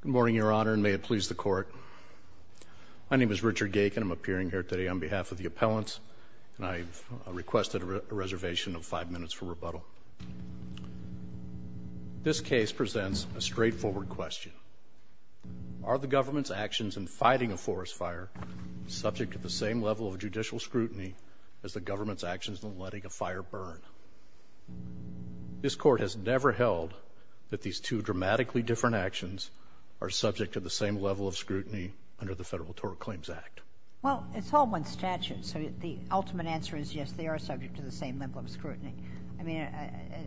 Good morning, Your Honor, and may it please the Court. My name is Richard Gaykin. I'm appearing here today on behalf of the appellants, and I've requested a reservation of five minutes for rebuttal. This case presents a straightforward question. Are the government's actions in fighting a forest fire subject to the same level of judicial scrutiny as the government's actions in letting a fire burn? This Court has never held that these two dramatically different actions are subject to the same level of scrutiny under the Federal Torah Claims Act. Well, it's all one statute, so the ultimate answer is, yes, they are subject to the same level of scrutiny. I mean,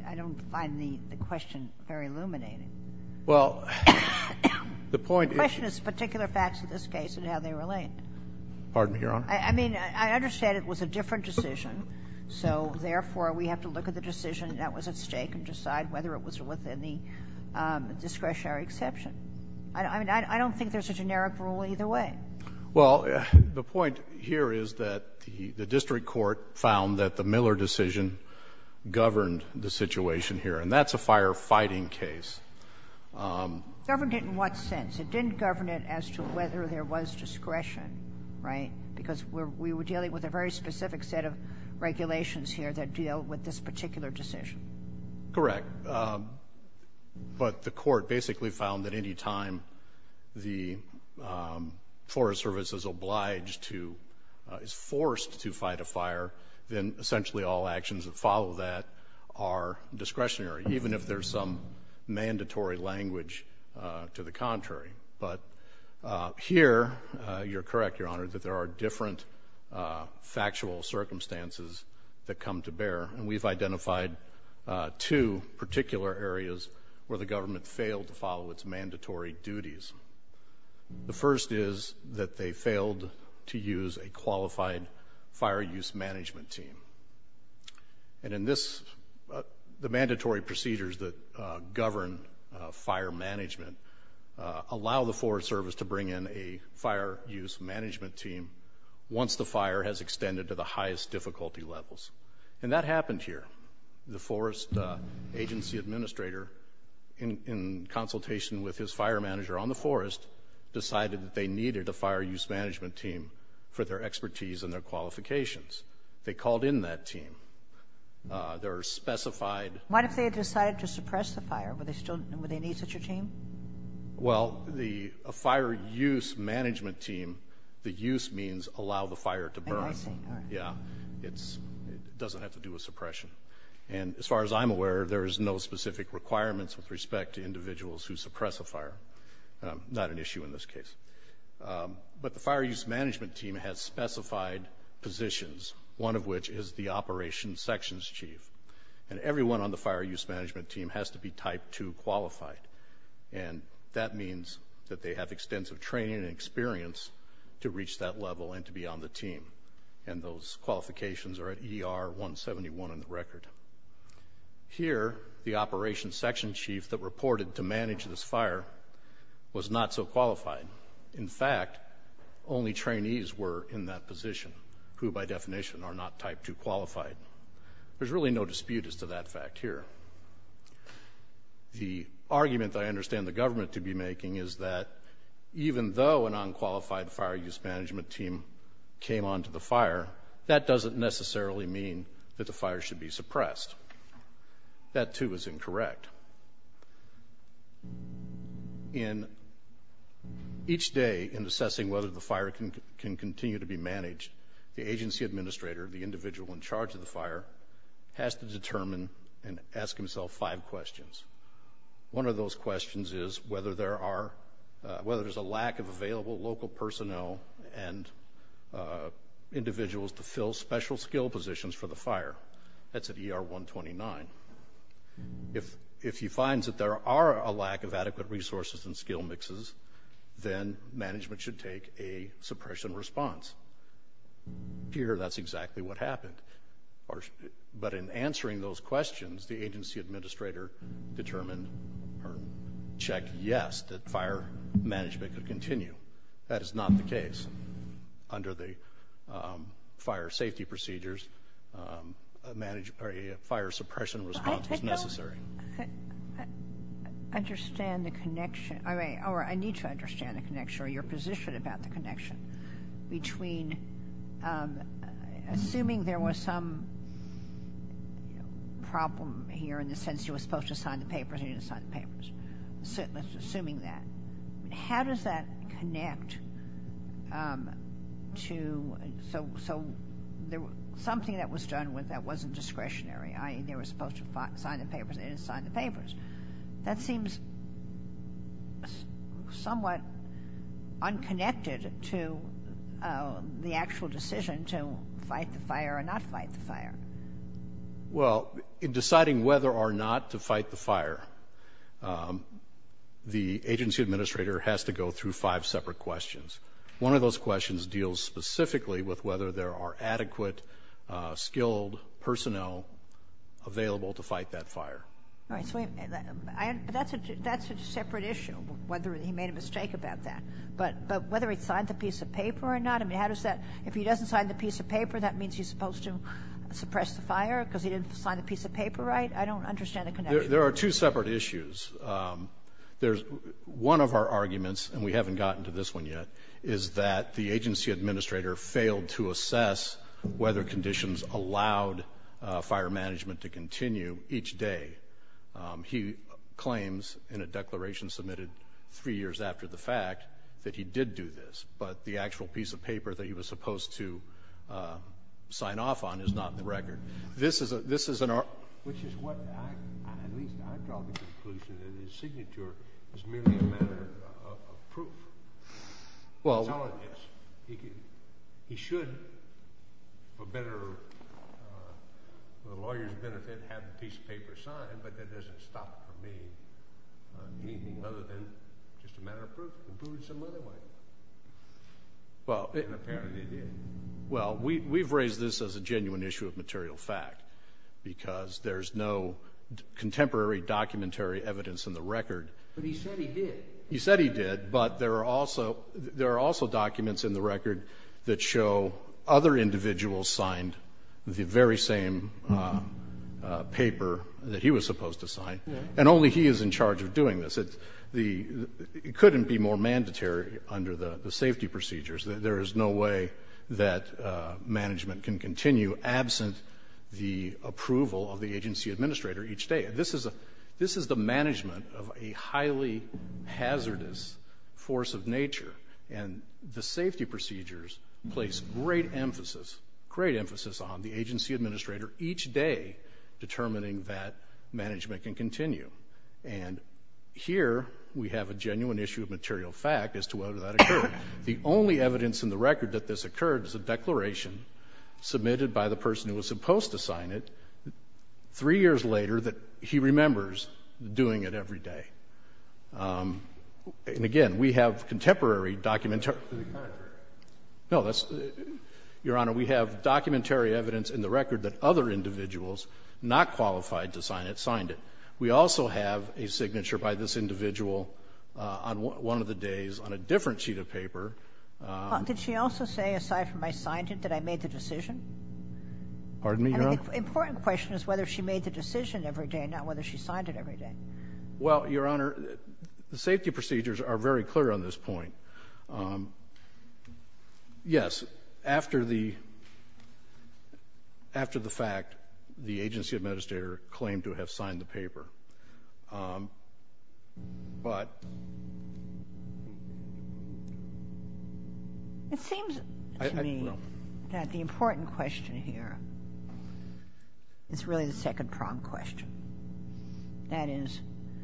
I don't find the question very illuminating. Well, the point is you — The question is particular facts of this case and how they relate. Pardon me, Your Honor. I mean, I understand it was a different decision, so therefore, we have to look at the decision that was at stake and decide whether it was within the discretionary exception. I mean, I don't think there's a generic rule either way. Well, the point here is that the district court found that the Miller decision governed the situation here, and that's a firefighting case. Governed it in what sense? It didn't govern it as to whether there was discretion, right? Because we were dealing with a very specific set of regulations here that deal with this particular decision. Correct. But the court basically found that any time the Forest Service is obliged to — is forced to fight a fire, then essentially all actions that follow that are discretionary, even if there's some mandatory language to the contrary. But here, you're correct, Your Honor, that there are different factual circumstances that come to bear, and we've identified two particular areas where the government failed to follow its mandatory duties. The first is that they failed to use a qualified fire use management team. And in this — the mandatory procedures that govern fire management allow the Forest Service to bring in a fire use management team once the fire has extended to the highest difficulty levels. And that happened here. The Forest Agency administrator, in consultation with his fire manager on the forest, decided that they needed a fire use management team for their expertise and their qualifications. They called in that team. There are specified — What if they had decided to suppress the fire? Would they still — would they need such a team? Well, the fire use management team — the use means allow the fire to burn. I see. All right. Yeah. It's — it doesn't have to do with suppression. And as far as I'm aware, there is no specific requirements with respect to individuals who suppress a fire. Not an issue in this case. But the fire use management team has specified positions, one of which is the operations sections chief. And everyone on the fire use management team has to be Type 2 qualified. And that means that they have extensive training and experience to reach that level and to be on the team. Here, the operations section chief that reported to manage this fire was not so qualified. In fact, only trainees were in that position who, by definition, are not Type 2 qualified. There's really no dispute as to that fact here. The argument that I understand the government to be making is that even though an unqualified fire use management team came onto the fire, that doesn't necessarily mean that the fire should be suppressed. That, too, is incorrect. In each day in assessing whether the fire can continue to be managed, the agency administrator, the individual in charge of the fire, has to determine and ask himself five questions. One of those questions is whether there are — whether there's a lack of available local personnel and individuals to fill special skill positions for the fire. That's at ER 129. If he finds that there are a lack of adequate resources and skill mixes, then management should take a suppression response. Here, that's exactly what happened. But in answering those questions, the agency administrator determined or checked yes, that fire management could continue. That is not the case. Under the fire safety procedures, a fire suppression response was necessary. I understand the connection — or I need to understand the connection or your position about the connection between — assuming there was some problem here in the sense you were supposed to sign the papers and you didn't sign the papers, assuming that. How does that connect to — so something that was done with that wasn't discretionary, i.e. they were supposed to sign the papers and they didn't sign the papers. That seems somewhat unconnected to the actual decision to fight the fire or not fight the fire. Well, in deciding whether or not to fight the fire, the agency administrator has to go through five separate questions. One of those questions deals specifically with whether there are adequate skilled personnel available to fight that fire. All right, so that's a separate issue, whether he made a mistake about that. But whether he signed the piece of paper or not, I mean, how does that — if he doesn't sign the piece of paper, that means he's supposed to suppress the fire because he didn't sign the piece of paper right? I don't understand the connection. There are two separate issues. There's — one of our arguments, and we haven't gotten to this one yet, is that the agency administrator failed to assess whether conditions allowed fire management to continue each day. He claims in a declaration submitted three years after the fact that he did do this, but the actual piece of paper that he was supposed to sign off on is not in the record. This is an — Which is what I — at least I draw the conclusion that his signature is merely a matter of proof. Well — He's telling us he should, for better or — for the lawyer's benefit, have the piece of paper signed, but that doesn't stop him from being anything other than just a matter of proof. Well, we've raised this as a genuine issue of material fact, because there's no contemporary documentary evidence in the record. But he said he did. He said he did, but there are also documents in the record that show other individuals signed the very same paper that he was supposed to sign, and only he is in charge of doing this. It couldn't be more mandatory under the safety procedures. There is no way that management can continue absent the approval of the agency administrator each day. This is the management of a highly hazardous force of nature, and the safety procedures place great emphasis — great emphasis on the agency administrator each day determining that management can continue. And here we have a genuine issue of material fact as to whether that occurred. The only evidence in the record that this occurred is a declaration submitted by the person who was supposed to sign it three years later that he remembers doing it every day. And again, we have contemporary documentary — To the contrary. No, that's — Your Honor, we have documentary evidence in the record that other individuals not qualified to sign it signed it. We also have a signature by this individual on one of the days on a different sheet of paper. Did she also say, aside from I signed it, that I made the decision? Pardon me, Your Honor? I mean, the important question is whether she made the decision every day, not whether she signed it every day. Well, Your Honor, the safety procedures are very clear on this point. Yes, after the — after the fact, the agency administrator claimed to have signed the paper. But — It seems to me that the important question here is really the second prompt question. That is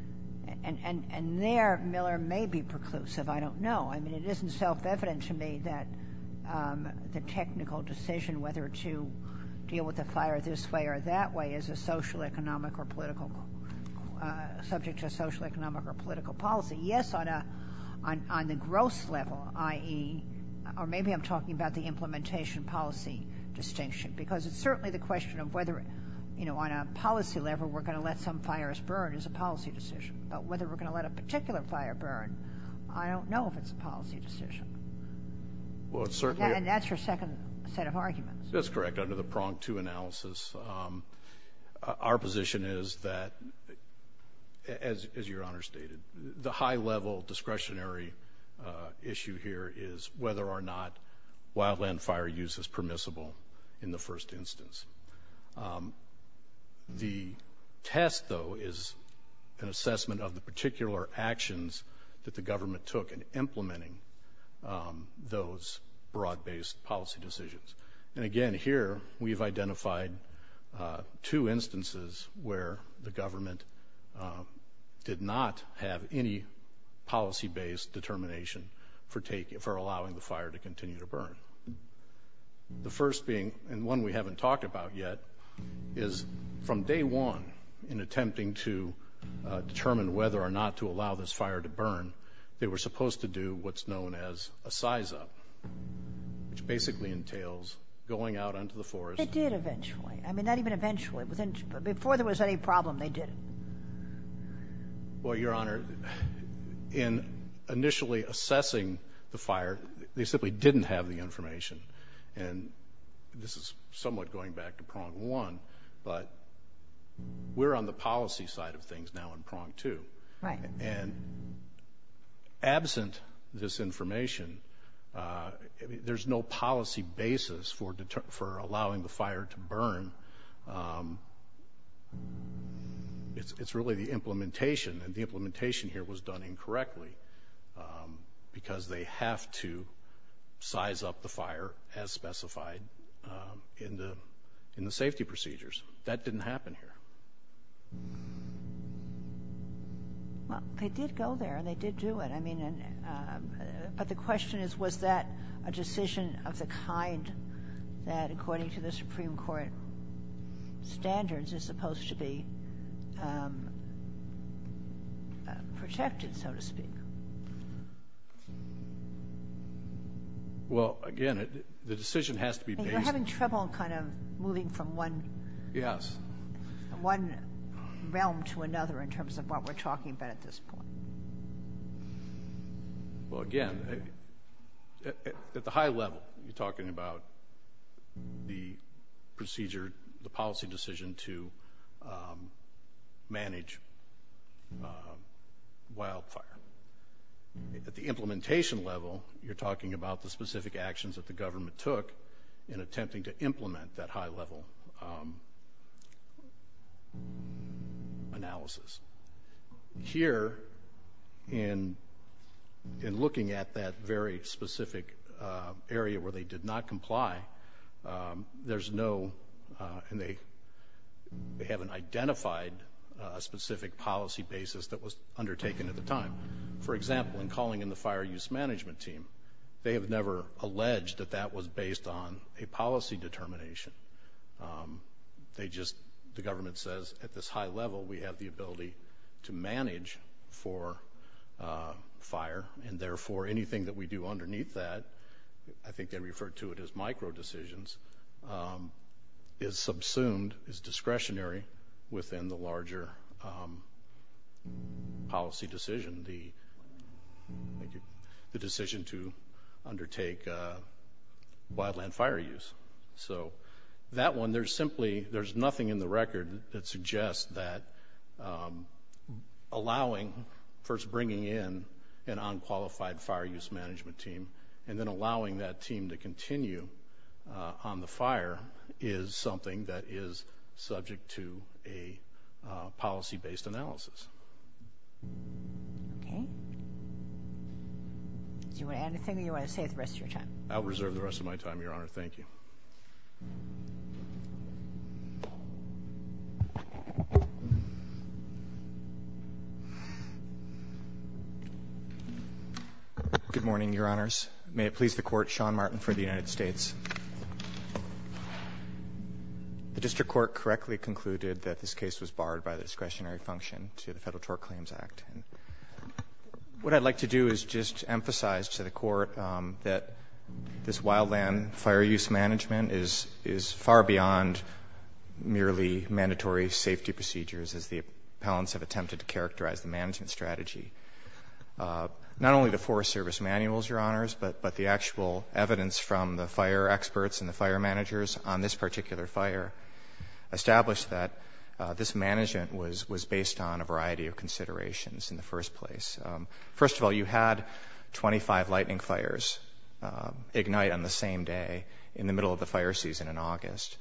— and there Miller may be preclusive. I don't know. I mean, it isn't self-evident to me that the technical decision whether to deal with the fire this way or that way is a social, economic, or political — subject to a social, economic, or political policy. Yes, on a — on the gross level, i.e. — or maybe I'm talking about the implementation policy distinction. Because it's certainly the question of whether, you know, on a policy level, we're going to let some fires burn is a policy decision. But whether we're going to let a particular fire burn, I don't know if it's a policy decision. Well, it's certainly — And that's your second set of arguments. That's correct. Under the prong two analysis, our position is that, as Your Honor stated, the high-level discretionary issue here is whether or not wildland fire use is permissible in the first instance. The test, though, is an assessment of the particular actions that the government took in implementing those broad-based policy decisions. And again, here, we've identified two instances where the government did not have any policy-based determination for taking — for allowing the fire to continue to burn. The first being — and one we haven't talked about yet — is from day one, in attempting to determine whether or not to allow this fire to burn, they were supposed to do what's known as a size-up, which basically entails going out into the forest — They did eventually. I mean, not even eventually. Before there was any problem, they did it. Well, Your Honor, in initially assessing the fire, they simply didn't have the information. And this is somewhat going back to prong one, but we're on the policy side of things now in prong two. Right. And absent this information, there's no policy basis for allowing the fire to burn. It's really the implementation, and the implementation here was done incorrectly, because they have to size up the fire as specified in the safety procedures. That didn't happen here. Well, they did go there, and they did do it. I mean, but the question is, was that a decision of the kind that, according to the Supreme Court, standards are supposed to be protected, so to speak. Well, again, the decision has to be based — You're having trouble kind of moving from one — Yes. — one realm to another in terms of what we're talking about at this point. Well, again, at the high level, you're talking about the procedure, the policy decision to manage wildfire. At the implementation level, you're talking about the specific actions that the government took in attempting to implement that high-level analysis. Here, in looking at that very specific area where they did not comply, there's no — and they haven't identified a specific policy basis that was undertaken at the time. For example, in calling in the fire use management team, they have never alleged that that was based on a policy determination. They just — the government says, at this high level, we have the ability to manage for fire, and therefore, anything that we do underneath that — I think they refer to it as micro-decisions — is subsumed, is discretionary within the larger policy decision, the decision to undertake wildland fire use. So that one, there's simply — there's nothing in the record that suggests that allowing — first, bringing in an unqualified fire use management team, and then allowing that team to continue on the fire is something that is subject to a policy-based analysis. Okay. Do you want to add anything, or do you want to stay the rest of your time? I'll reserve the rest of my time, Your Honor. Thank you. Good morning, Your Honors. May it please the Court, Sean Martin for the United States. The district court correctly concluded that this case was barred by the discretionary function to the Federal Tort Claims Act. What I'd like to do is just emphasize to the Court that this wildland fire use management is far beyond merely mandatory safety procedures, as the appellants have attempted to characterize the management strategy. Not only the Forest Service manuals, Your Honors, but the actual evidence from the fire experts and the fire managers on this particular fire established that this management was based on a variety of considerations in the first place. First of all, you had 25 lightning fires ignite on the same day in the middle of the fire season in August.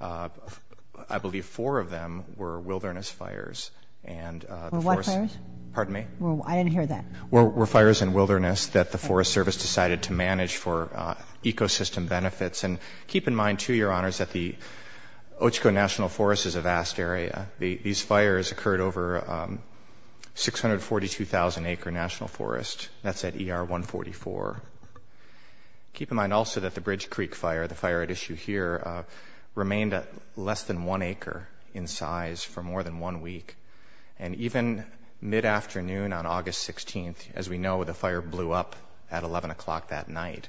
I believe four of them were wilderness fires, and — Were what fires? Pardon me? I didn't hear that. Were fires in wilderness that the Forest Service decided to manage for ecosystem benefits. And keep in mind, too, Your Honors, that the Ochoco National Forest is a vast area. These fires occurred over 642,000-acre national forest. That's at ER 144. Keep in mind also that the Bridge Creek fire, the fire at issue here, remained at less than one acre in size for more than one week. And even mid-afternoon on August 16th, as we know, the fire blew up at 11 o'clock that night.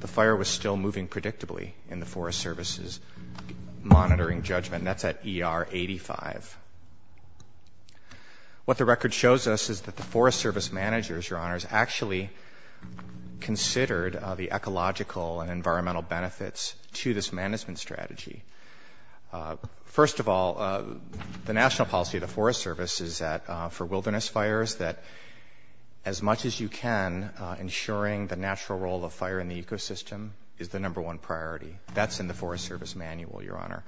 The fire was still moving predictably in the Forest Service's monitoring judgment. That's at ER 85. What the record shows us is that the Forest Service managers, Your Honors, actually considered the ecological and environmental benefits to this management strategy. First of all, the national policy of the Forest Service is that for wilderness fires, that as much as you can, ensuring the natural role of fire in the ecosystem is the number one priority. That's in the Forest Service manual, Your Honor.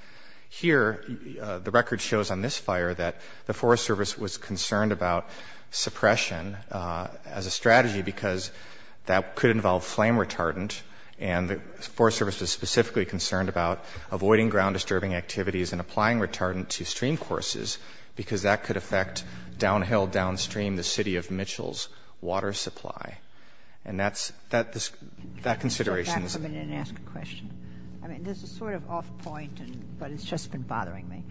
Here, the record shows on this fire that the Forest Service was concerned about suppression as a strategy because that could involve flame retardant. And the Forest Service was specifically concerned about avoiding ground-disturbing activities and applying retardant to streamcourses because that could affect downhill, downstream the city of Mitchell's water supply. And that's the consideration. Sotomayor, you can step back for a minute and ask a question. I mean, this is sort of off-point, but it's just been bothering me.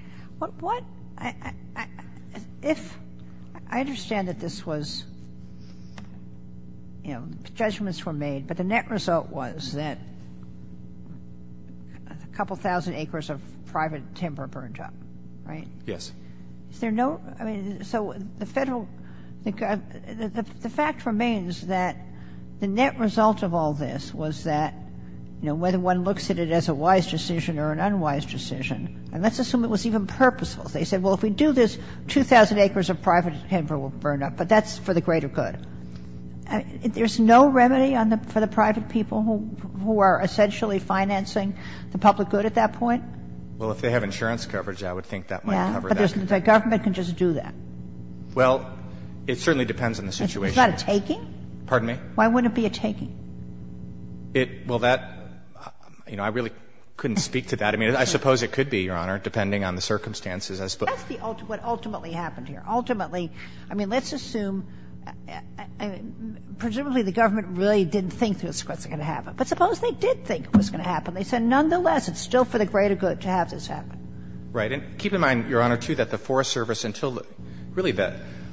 What? If I understand that this was, you know, judgments were made, but the net result was that a couple thousand acres of private timber burned up, right? Yes. Is there no ‑‑ I mean, so the Federal ‑‑ the fact remains that the net result of all this was that, you know, whether one looks at it as a wise decision or an unwise decision, and let's assume it was even purposeful. They said, well, if we do this, 2,000 acres of private timber will burn up, but that's for the greater good. There's no remedy for the private people who are essentially financing the public good at that point? Well, if they have insurance coverage, I would think that might cover that. Yeah, but the government can just do that. Well, it certainly depends on the situation. Is that a taking? Pardon me? Why wouldn't it be a taking? It ‑‑ well, that, you know, I really couldn't speak to that. I mean, I suppose it could be, Your Honor, depending on the circumstances. That's what ultimately happened here. Ultimately, I mean, let's assume ‑‑ I mean, presumably the government really didn't think this was going to happen. But suppose they did think it was going to happen. They said, nonetheless, it's still for the greater good to have this happen. Right. And keep in mind, Your Honor, too, that the Forest Service until really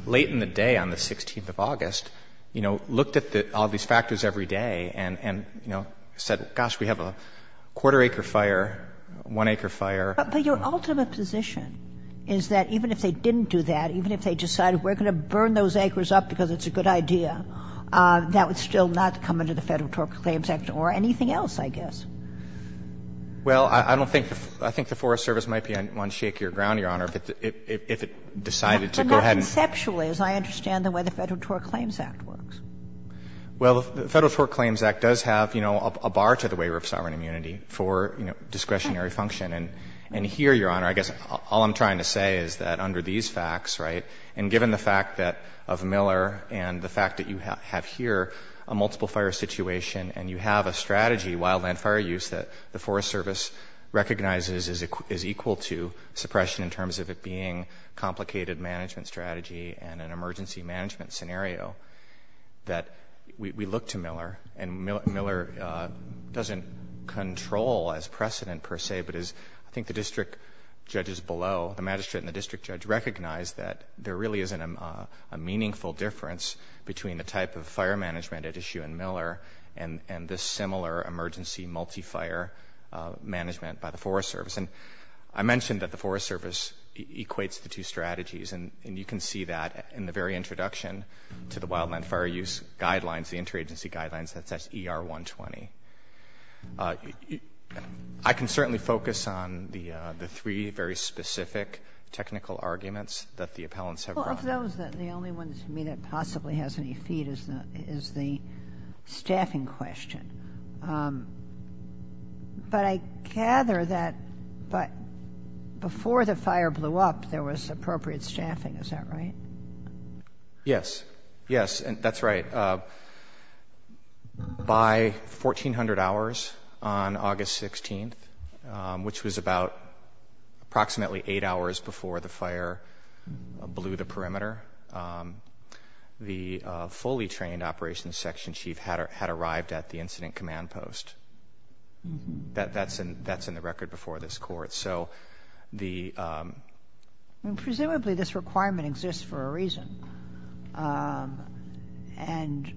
late in the day on the 16th of August, you know, looked at all these factors every day and, you know, said, gosh, we have a quarter acre fire, one acre fire. But your ultimate position is that even if they didn't do that, even if they decided we're going to burn those acres up because it's a good idea, that would still not come under the Federal Tort Claims Act or anything else, I guess. Well, I don't think the ‑‑ I think the Forest Service might be on shakier ground, Your Honor, if it decided to go ahead and ‑‑ But not conceptually, as I understand the way the Federal Tort Claims Act works. Well, the Federal Tort Claims Act does have, you know, a bar to the waiver of sovereign immunity for, you know, discretionary function. And here, Your Honor, I guess all I'm trying to say is that under these facts, right, and given the fact that of Miller and the fact that you have here a multiple fire situation and you have a strategy, wildland fire use, that the Forest Service recognizes is equal to suppression in terms of it being complicated management strategy and an emergency precedent per se, but as I think the district judges below, the magistrate and the district judge, recognize that there really isn't a meaningful difference between the type of fire management at issue in Miller and this similar emergency multi‑fire management by the Forest Service. And I mentioned that the Forest Service equates the two strategies, and you can see that in the very introduction to the wildland fire use guidelines, the interagency guidelines, that says ER 120. I can certainly focus on the three very specific technical arguments that the appellants have brought. Well, of those, the only one to me that possibly has any feet is the staffing question. But I gather that before the fire blew up, there was appropriate staffing. Is that right? Yes. Yes, that's right. By 1400 hours on August 16th, which was about approximately eight hours before the fire blew the perimeter, the fully trained operations section chief had arrived at the incident command post. That's in the record before this court. So the Presumably this requirement exists for a reason. And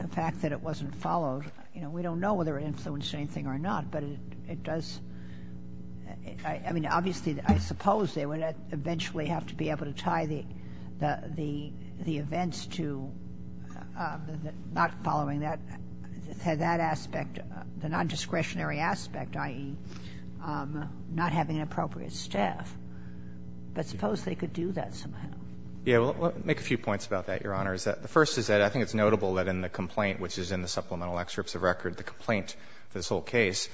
the fact that it wasn't followed, you know, we don't know whether it influenced anything or not, but it does, I mean, obviously, I suppose they would eventually have to be able to tie the events to not following that aspect, the nondiscretionary aspect, i.e., not having an appropriate staff. But suppose they could do that somehow. Yeah. Well, I'll make a few points about that, Your Honor. The first is that I think it's notable that in the complaint, which is in the supplemental excerpts of record, the complaint for this whole case,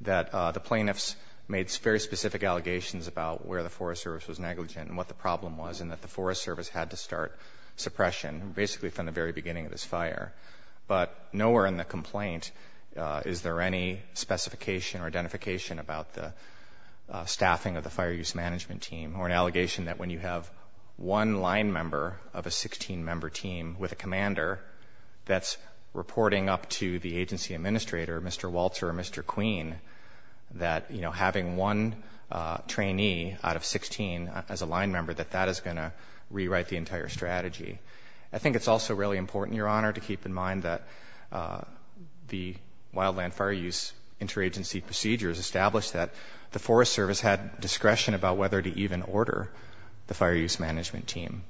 that the plaintiffs made very specific allegations about where the Forest Service was negligent and what the problem was, and that the Forest Service had to start suppression, basically from the very beginning of this fire. But nowhere in the complaint is there any specification or identification about the staffing of the fire use management team or an allegation that when you have one line member of a 16-member team with a commander that's reporting up to the agency administrator, Mr. Walter or Mr. Queen, that, you know, having one trainee out of 16 as a line member, that that is going to rewrite the entire strategy. I think it's also really important, Your Honor, to keep in mind that the Forest Service had discretion about whether to even order the fire use management team.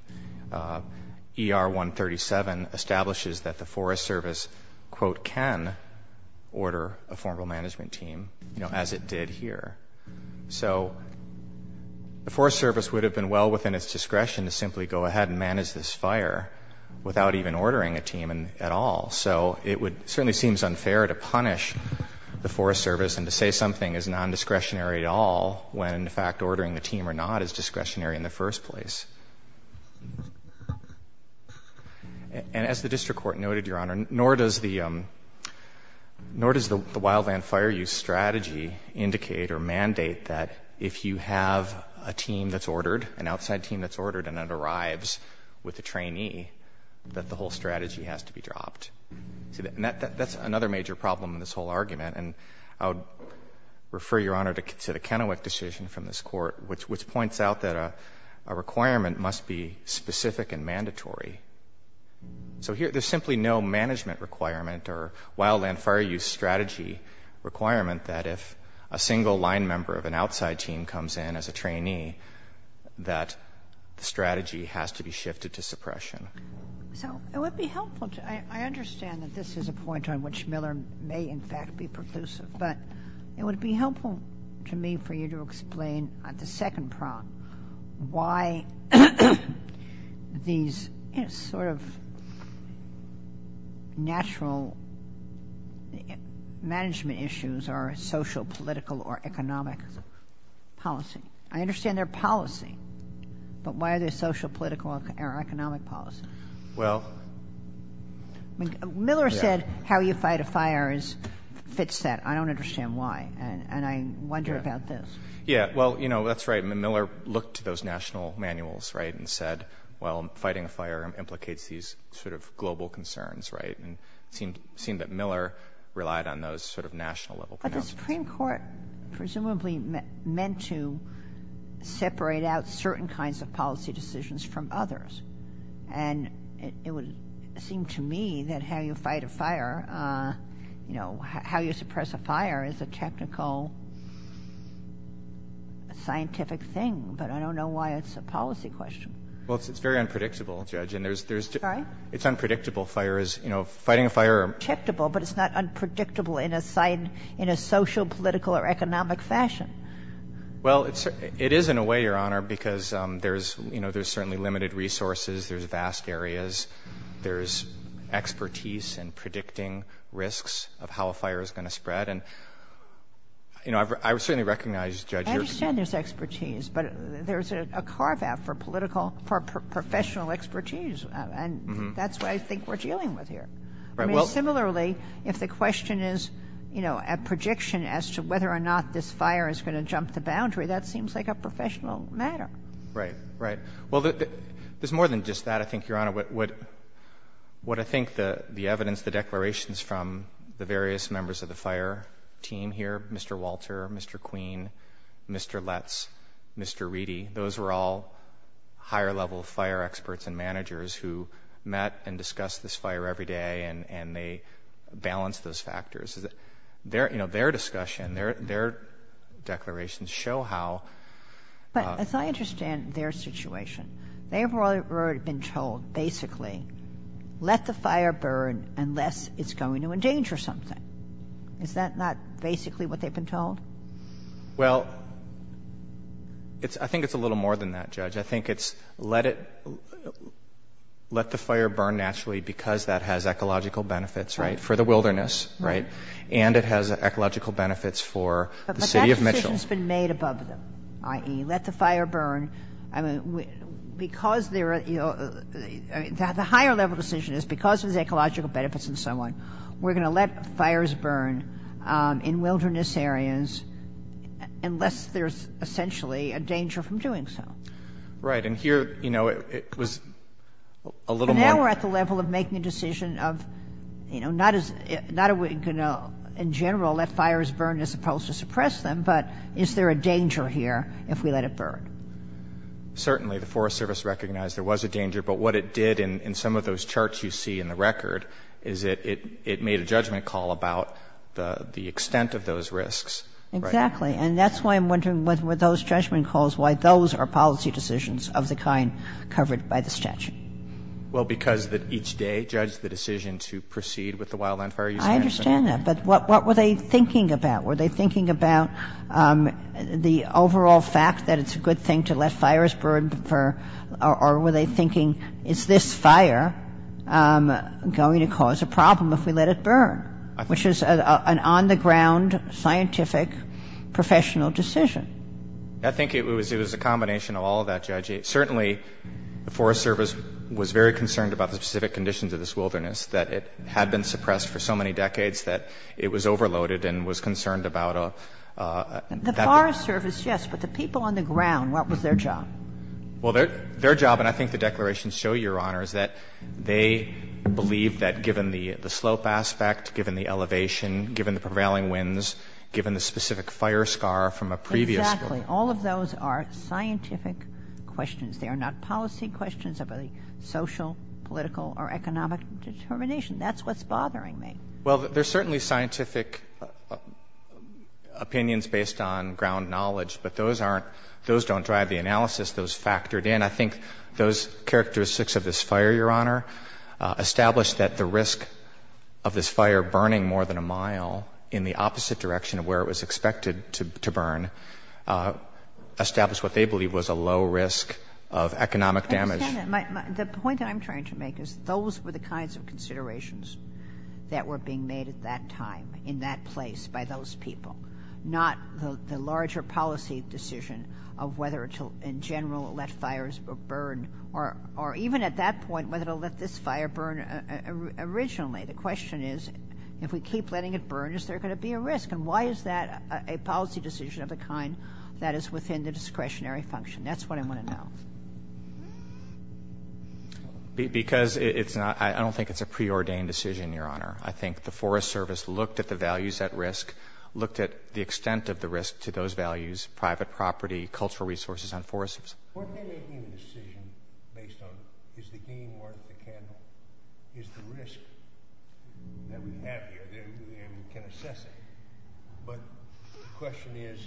ER 137 establishes that the Forest Service, quote, can order a formal management team, you know, as it did here. So the Forest Service would have been well within its discretion to simply go ahead and manage this fire without even ordering a team at all. So it would certainly seems unfair to punish the Forest Service and to say something is nondiscretionary at all when, in fact, ordering the team or not is discretionary in the first place. And as the district court noted, Your Honor, nor does the Wildland Fire Use strategy indicate or mandate that if you have a team that's ordered, an outside team that's ordered and it arrives with a trainee, that the whole strategy has to be dropped. That's another major problem in this whole argument. And I would refer, Your Honor, to the Kennewick decision from this Court, which points out that a requirement must be specific and mandatory. So here, there's simply no management requirement or Wildland Fire Use strategy requirement that if a single line member of an outside team comes in as a trainee, that the strategy has to be shifted to suppression. So it would be helpful to – I understand that this is a point on which Miller may, in fact, be preclusive, but it would be helpful to me for you to explain the second problem, why these sort of natural management issues are social, political, or economic policy. I understand they're policy, but why are they social, political, or economic policy? Miller said how you fight a fire fits that. I don't understand why. And I wonder about this. Yeah. Well, you know, that's right. Miller looked to those national manuals, right, and said, well, fighting a fire implicates these sort of global concerns, right? And it seemed that Miller relied on those sort of national-level pronouncements. But the Supreme Court presumably meant to separate out certain kinds of policy decisions from others. And it would seem to me that how you fight a fire, you know, how you suppress a fire is a technical, scientific thing. But I don't know why it's a policy question. Well, it's very unpredictable, Judge. Sorry? It's unpredictable. You know, fighting a fire is predictable, but it's not unpredictable in a social, political, or economic fashion. Well, it is in a way, Your Honor, because there's, you know, there's certainly limited resources. There's vast areas. There's expertise in predicting risks of how a fire is going to spread. And, you know, I certainly recognize, Judge, you're concerned. I understand there's expertise, but there's a carve-out for political, for professional expertise. And that's what I think we're dealing with here. I mean, similarly, if the question is, you know, a prediction as to whether or not this fire is going to jump the boundary, that seems like a professional matter. Right. Right. Well, there's more than just that, I think, Your Honor. What I think the evidence, the declarations from the various members of the fire team here, Mr. Walter, Mr. Queen, Mr. Letts, Mr. Reedy, those were all higher-level fire experts and managers who met and discussed this fire every day, and they balanced those different declarations to show how... But as I understand their situation, they have already been told, basically, let the fire burn unless it's going to endanger something. Is that not basically what they've been told? Well, it's — I think it's a little more than that, Judge. I think it's let it — let the fire burn naturally because that has ecological benefits, right, for the wilderness, right, and it has ecological benefits for the city of Mitchell. But that decision's been made above them, i.e., let the fire burn. I mean, because there are — the higher-level decision is because of the ecological benefits and so on, we're going to let fires burn in wilderness areas unless there's essentially a danger from doing so. Right. And here, you know, it was a little more... It's a higher-level of making a decision of, you know, not as — not in general let fires burn as opposed to suppress them, but is there a danger here if we let it burn? Certainly. The Forest Service recognized there was a danger, but what it did in some of those charts you see in the record is it made a judgment call about the extent of those risks. Exactly. And that's why I'm wondering what were those judgment calls, why those are policy decisions of the kind covered by the statute. Well, because each day judged the decision to proceed with the wildland fire use management. I understand that. But what were they thinking about? Were they thinking about the overall fact that it's a good thing to let fires burn, or were they thinking, is this fire going to cause a problem if we let it burn, which is an on-the-ground scientific, professional decision? I think it was a combination of all of that, Judge. Certainly, the Forest Service was very concerned about the specific conditions of this wilderness, that it had been suppressed for so many decades that it was overloaded and was concerned about a... The Forest Service, yes, but the people on the ground, what was their job? Well, their job, and I think the declarations show, Your Honor, is that they believed that given the slope aspect, given the elevation, given the prevailing winds, given the specific fire scar from a previous... Exactly. All of those are scientific questions. They are not policy questions about the social, political, or economic determination. That's what's bothering me. Well, there's certainly scientific opinions based on ground knowledge, but those aren't, those don't drive the analysis. Those factored in. I think those characteristics of this fire, Your Honor, established that the risk of this fire burning more than a mile in the opposite direction of where it was expected to burn established what they believed was a low risk of economic damage. The point that I'm trying to make is those were the kinds of considerations that were being made at that time in that place by those people, not the larger policy decision of whether to, in general, let fires burn or even at that point whether to let this fire burn originally. The question is, if we keep letting it burn, is there going to be a risk, and why is that a policy decision of the kind that is within the discretionary function? That's what I want to know. Because it's not, I don't think it's a preordained decision, Your Honor. I think the Forest Service looked at the values at risk, looked at the extent of the risk to those values, private property, cultural resources on forests. What they're making the decision based on is the game worth the candle, is the risk that we have here, and we can assess it. But the question is,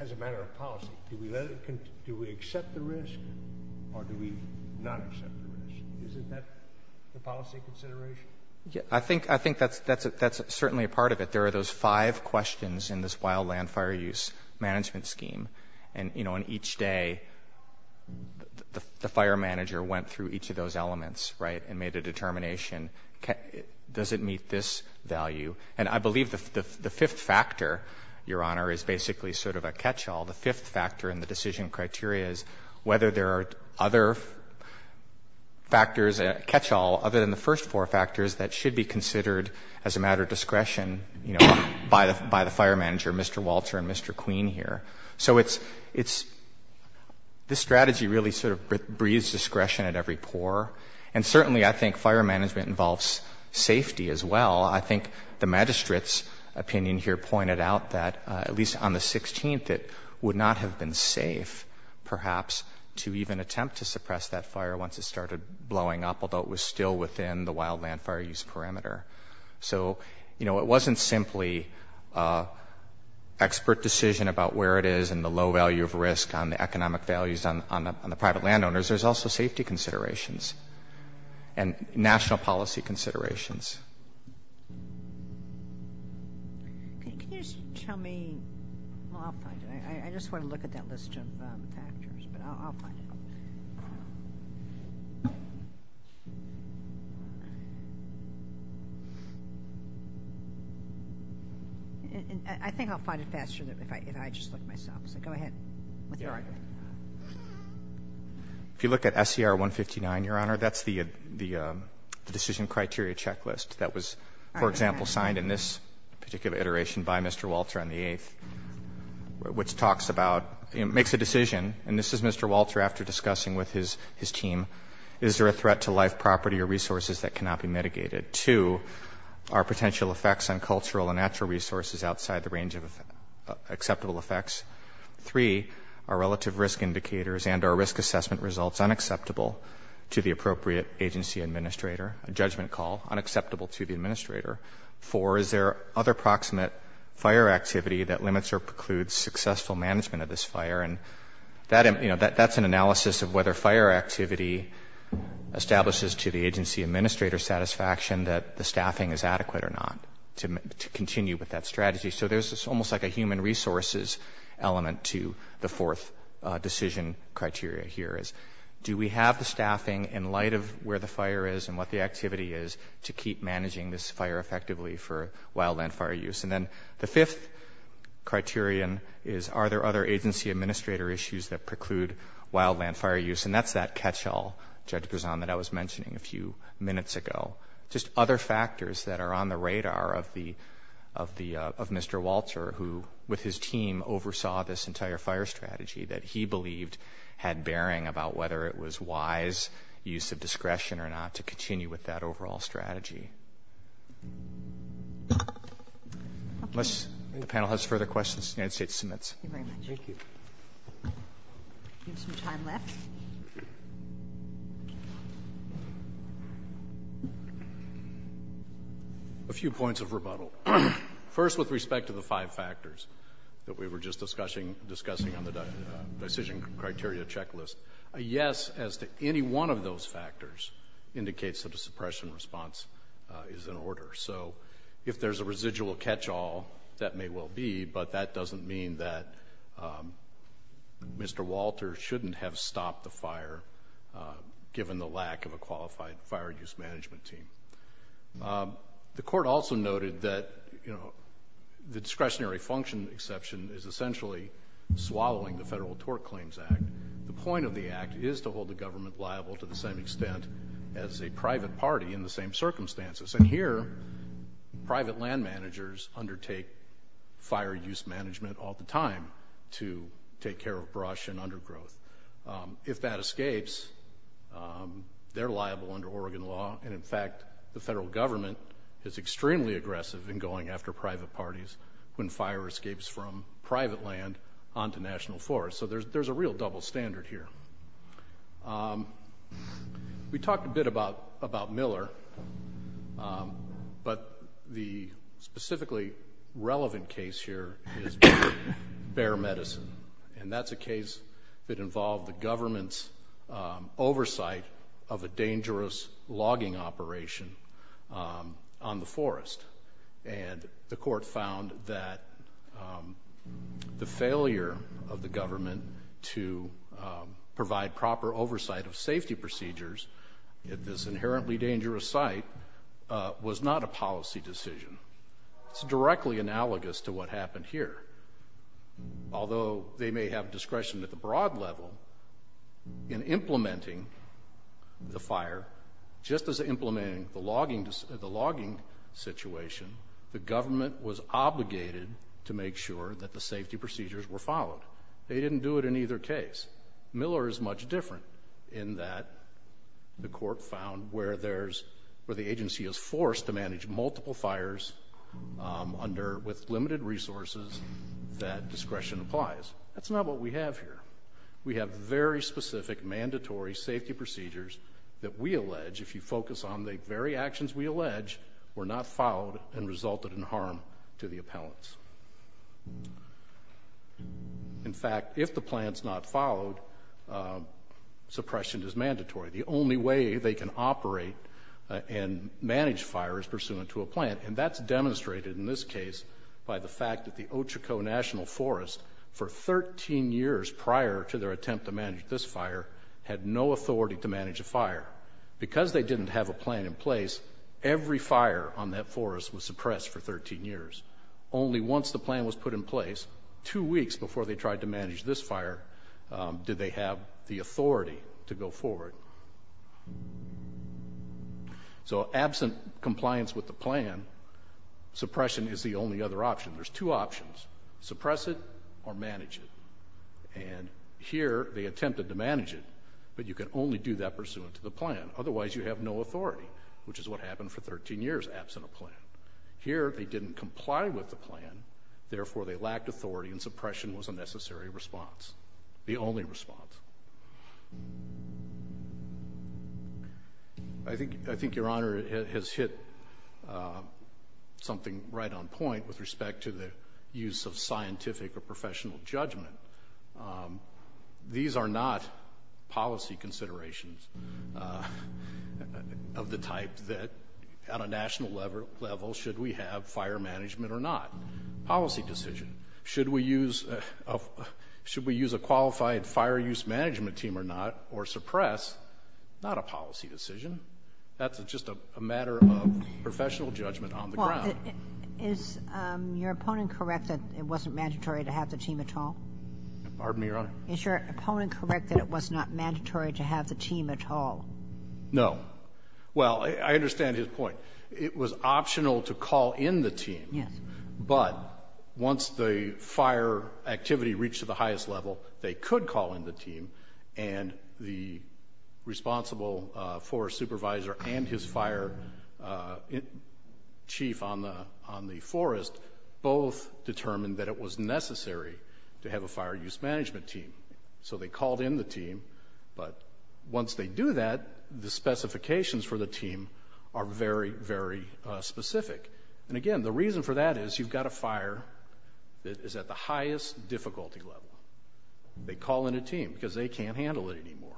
as a matter of policy, do we accept the risk or do we not accept the risk? Isn't that the policy consideration? I think that's certainly a part of it. But there are those five questions in this wildland fire use management scheme. And, you know, on each day, the fire manager went through each of those elements, right, and made a determination, does it meet this value? And I believe the fifth factor, Your Honor, is basically sort of a catchall. The fifth factor in the decision criteria is whether there are other factors, a catchall other than the first four factors that should be considered as a matter of discretion, you know, by the fire manager, Mr. Walter and Mr. Queen here. So it's this strategy really sort of breeds discretion at every pore. And certainly I think fire management involves safety as well. I think the magistrate's opinion here pointed out that, at least on the 16th, it would not have been safe perhaps to even attempt to suppress that fire once it started blowing up, although it was still within the wildland fire use parameter. So, you know, it wasn't simply expert decision about where it is and the low value of risk on the economic values on the private landowners. There's also safety considerations and national policy considerations. Can you just tell me? Well, I'll find it. I just want to look at that list of factors, but I'll find it. I think I'll find it faster if I just look myself. So go ahead. If you look at SCR 159, Your Honor, that's the decision criteria checklist. That was, for example, signed in this particular iteration by Mr. Walter on the 8th, which talks about, you know, makes a decision. And this is Mr. Walter after discussing with his team, is there a threat to life property or resources that cannot be mitigated? Two, are potential effects on cultural and natural resources outside the range of acceptable effects? Three, are relative risk indicators and are risk assessment results unacceptable to the appropriate agency administrator, a judgment call, unacceptable to the administrator? Four, is there other proximate fire activity that limits or precludes successful management of this fire? And, you know, that's an analysis of whether fire activity establishes to the agency administrator's satisfaction that the staffing is adequate or not to continue with that strategy. So there's almost like a human resources element to the fourth decision criteria here is do we have the staffing in light of where the fire is and what the activity is to keep managing this fire effectively for wildland fire use? And then the fifth criterion is are there other agency administrator issues that preclude wildland fire use? And that's that catchall, Judge Brezon, that I was mentioning a few minutes ago. Just other factors that are on the radar of Mr. Walter, who with his team oversaw this entire fire strategy that he believed had bearing about whether it was wise use of discretion or not to continue with that overall strategy. Unless the panel has further questions, the United States submits. Thank you very much. Thank you. We have some time left. A few points of rebuttal. First, with respect to the five factors that we were just discussing on the decision criteria checklist, a yes as to any one of those factors indicates that a suppression response is in order. So if there's a residual catchall, that may well be, but that doesn't mean that Mr. Walter shouldn't have stopped the fire, given the lack of a qualified fire use management team. The court also noted that the discretionary function exception is essentially swallowing the Federal Tort Claims Act. The point of the act is to hold the government liable to the same extent as a private party in the same circumstances. And here private land managers undertake fire use management all the time to take care of brush and undergrowth. If that escapes, they're liable under Oregon law, and in fact the federal government is extremely aggressive in going after private parties when fire escapes from private land onto national forests. So there's a real double standard here. We talked a bit about Miller, but the specifically relevant case here is Bear Medicine, and that's a case that involved the government's oversight of a dangerous logging operation on the forest. And the court found that the failure of the government to provide proper oversight of safety procedures at this inherently dangerous site was not a policy decision. It's directly analogous to what happened here. Although they may have discretion at the broad level in implementing the fire, just as implementing the logging situation, the government was obligated to make sure that the safety procedures were followed. They didn't do it in either case. Miller is much different in that the court found where the agency is forced to manage multiple fires with limited resources, that discretion applies. That's not what we have here. We have very specific mandatory safety procedures that we allege, if you focus on the very actions we allege, were not followed and resulted in harm to the appellants. In fact, if the plan's not followed, suppression is mandatory. The only way they can operate and manage fire is pursuant to a plan, and that's demonstrated in this case by the fact that the Ochoco National Forest, for 13 years prior to their attempt to manage this fire, had no authority to manage a fire. Because they didn't have a plan in place, every fire on that forest was suppressed for 13 years. Only once the plan was put in place, two weeks before they tried to manage this fire, did they have the authority to go forward. So absent compliance with the plan, suppression is the only other option. There's two options, suppress it or manage it. And here they attempted to manage it, but you can only do that pursuant to the plan. Otherwise, you have no authority, which is what happened for 13 years absent a plan. Here they didn't comply with the plan, therefore they lacked authority and suppression was a necessary response, the only response. I think Your Honor has hit something right on point with respect to the use of scientific or professional judgment. These are not policy considerations of the type that, on a national level, should we have fire management or not? Policy decision. Should we use a qualified fire use management team or not, or suppress? Not a policy decision. That's just a matter of professional judgment on the ground. Is your opponent correct that it wasn't mandatory to have the team at all? Pardon me, Your Honor? Is your opponent correct that it was not mandatory to have the team at all? No. Well, I understand his point. It was optional to call in the team. Yes. But once the fire activity reached to the highest level, they could call in the team, and the responsible forest supervisor and his fire chief on the forest both determined that it was necessary to have a fire use management team. So they called in the team, but once they do that, the specifications for the team are very, very specific. And again, the reason for that is you've got a fire that is at the highest difficulty level. They call in a team because they can't handle it anymore.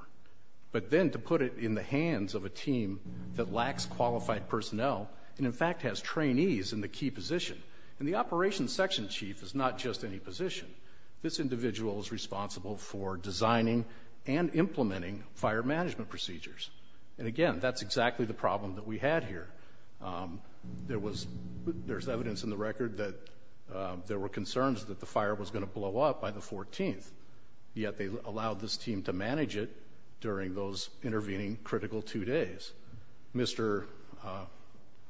But then to put it in the hands of a team that lacks qualified personnel and, in fact, has trainees in the key position, and the operations section chief is not just any position. This individual is responsible for designing and implementing fire management procedures. And, again, that's exactly the problem that we had here. There's evidence in the record that there were concerns that the fire was going to blow up by the 14th, yet they allowed this team to manage it during those intervening critical two days. Mr.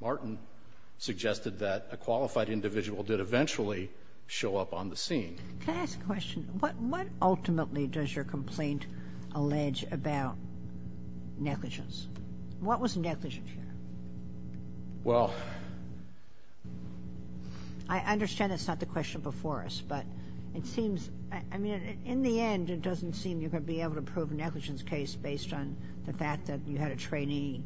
Martin suggested that a qualified individual did eventually show up on the scene. Can I ask a question? What ultimately does your complaint allege about negligence? What was negligence here? Well, I understand that's not the question before us, but it seems, I mean, in the end, it doesn't seem you're going to be able to prove a negligence case based on the fact that you had a trainee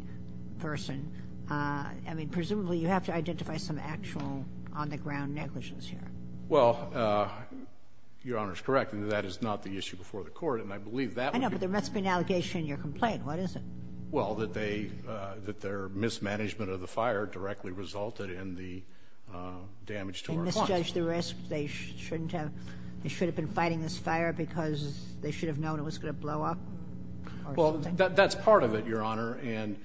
person. I mean, presumably you have to identify some actual on-the-ground negligence here. Well, Your Honor is correct. That is not the issue before the court, and I believe that would be I know, but there must be an allegation in your complaint. What is it? Well, that they, that their mismanagement of the fire directly resulted in the damage to our funds. They misjudged the risk. They shouldn't have. They should have been fighting this fire because they should have known it was going to blow up or something? Well, that's part of it, Your Honor, and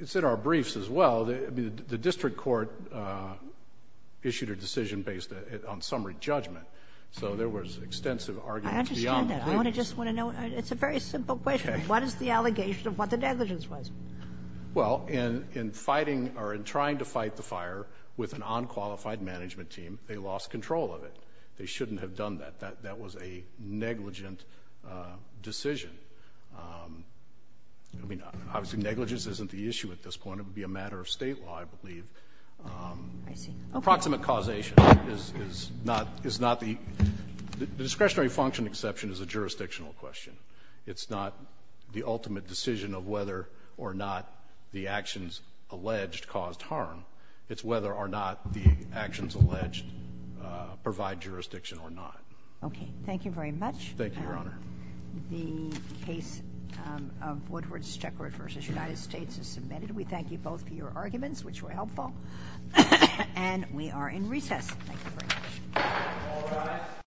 it's in our briefs as well. I mean, the district court issued a decision based on summary judgment. So there was extensive argument beyond that. I understand that. I just want to know. It's a very simple question. Okay. What is the allegation of what the negligence was? Well, in fighting or in trying to fight the fire with an unqualified management team, they lost control of it. They shouldn't have done that. That was a negligent decision. I mean, obviously negligence isn't the issue at this point. It would be a matter of State law, I believe. I see. Approximate causation is not the discretionary function exception is a jurisdictional question. It's not the ultimate decision of whether or not the actions alleged caused harm. It's whether or not the actions alleged provide jurisdiction or not. Okay. Thank you very much. Thank you, Your Honor. The case of Woodward-Steckert v. United States is submitted. We thank you both for your arguments, which were helpful. And we are in recess. Thank you very much. All rise.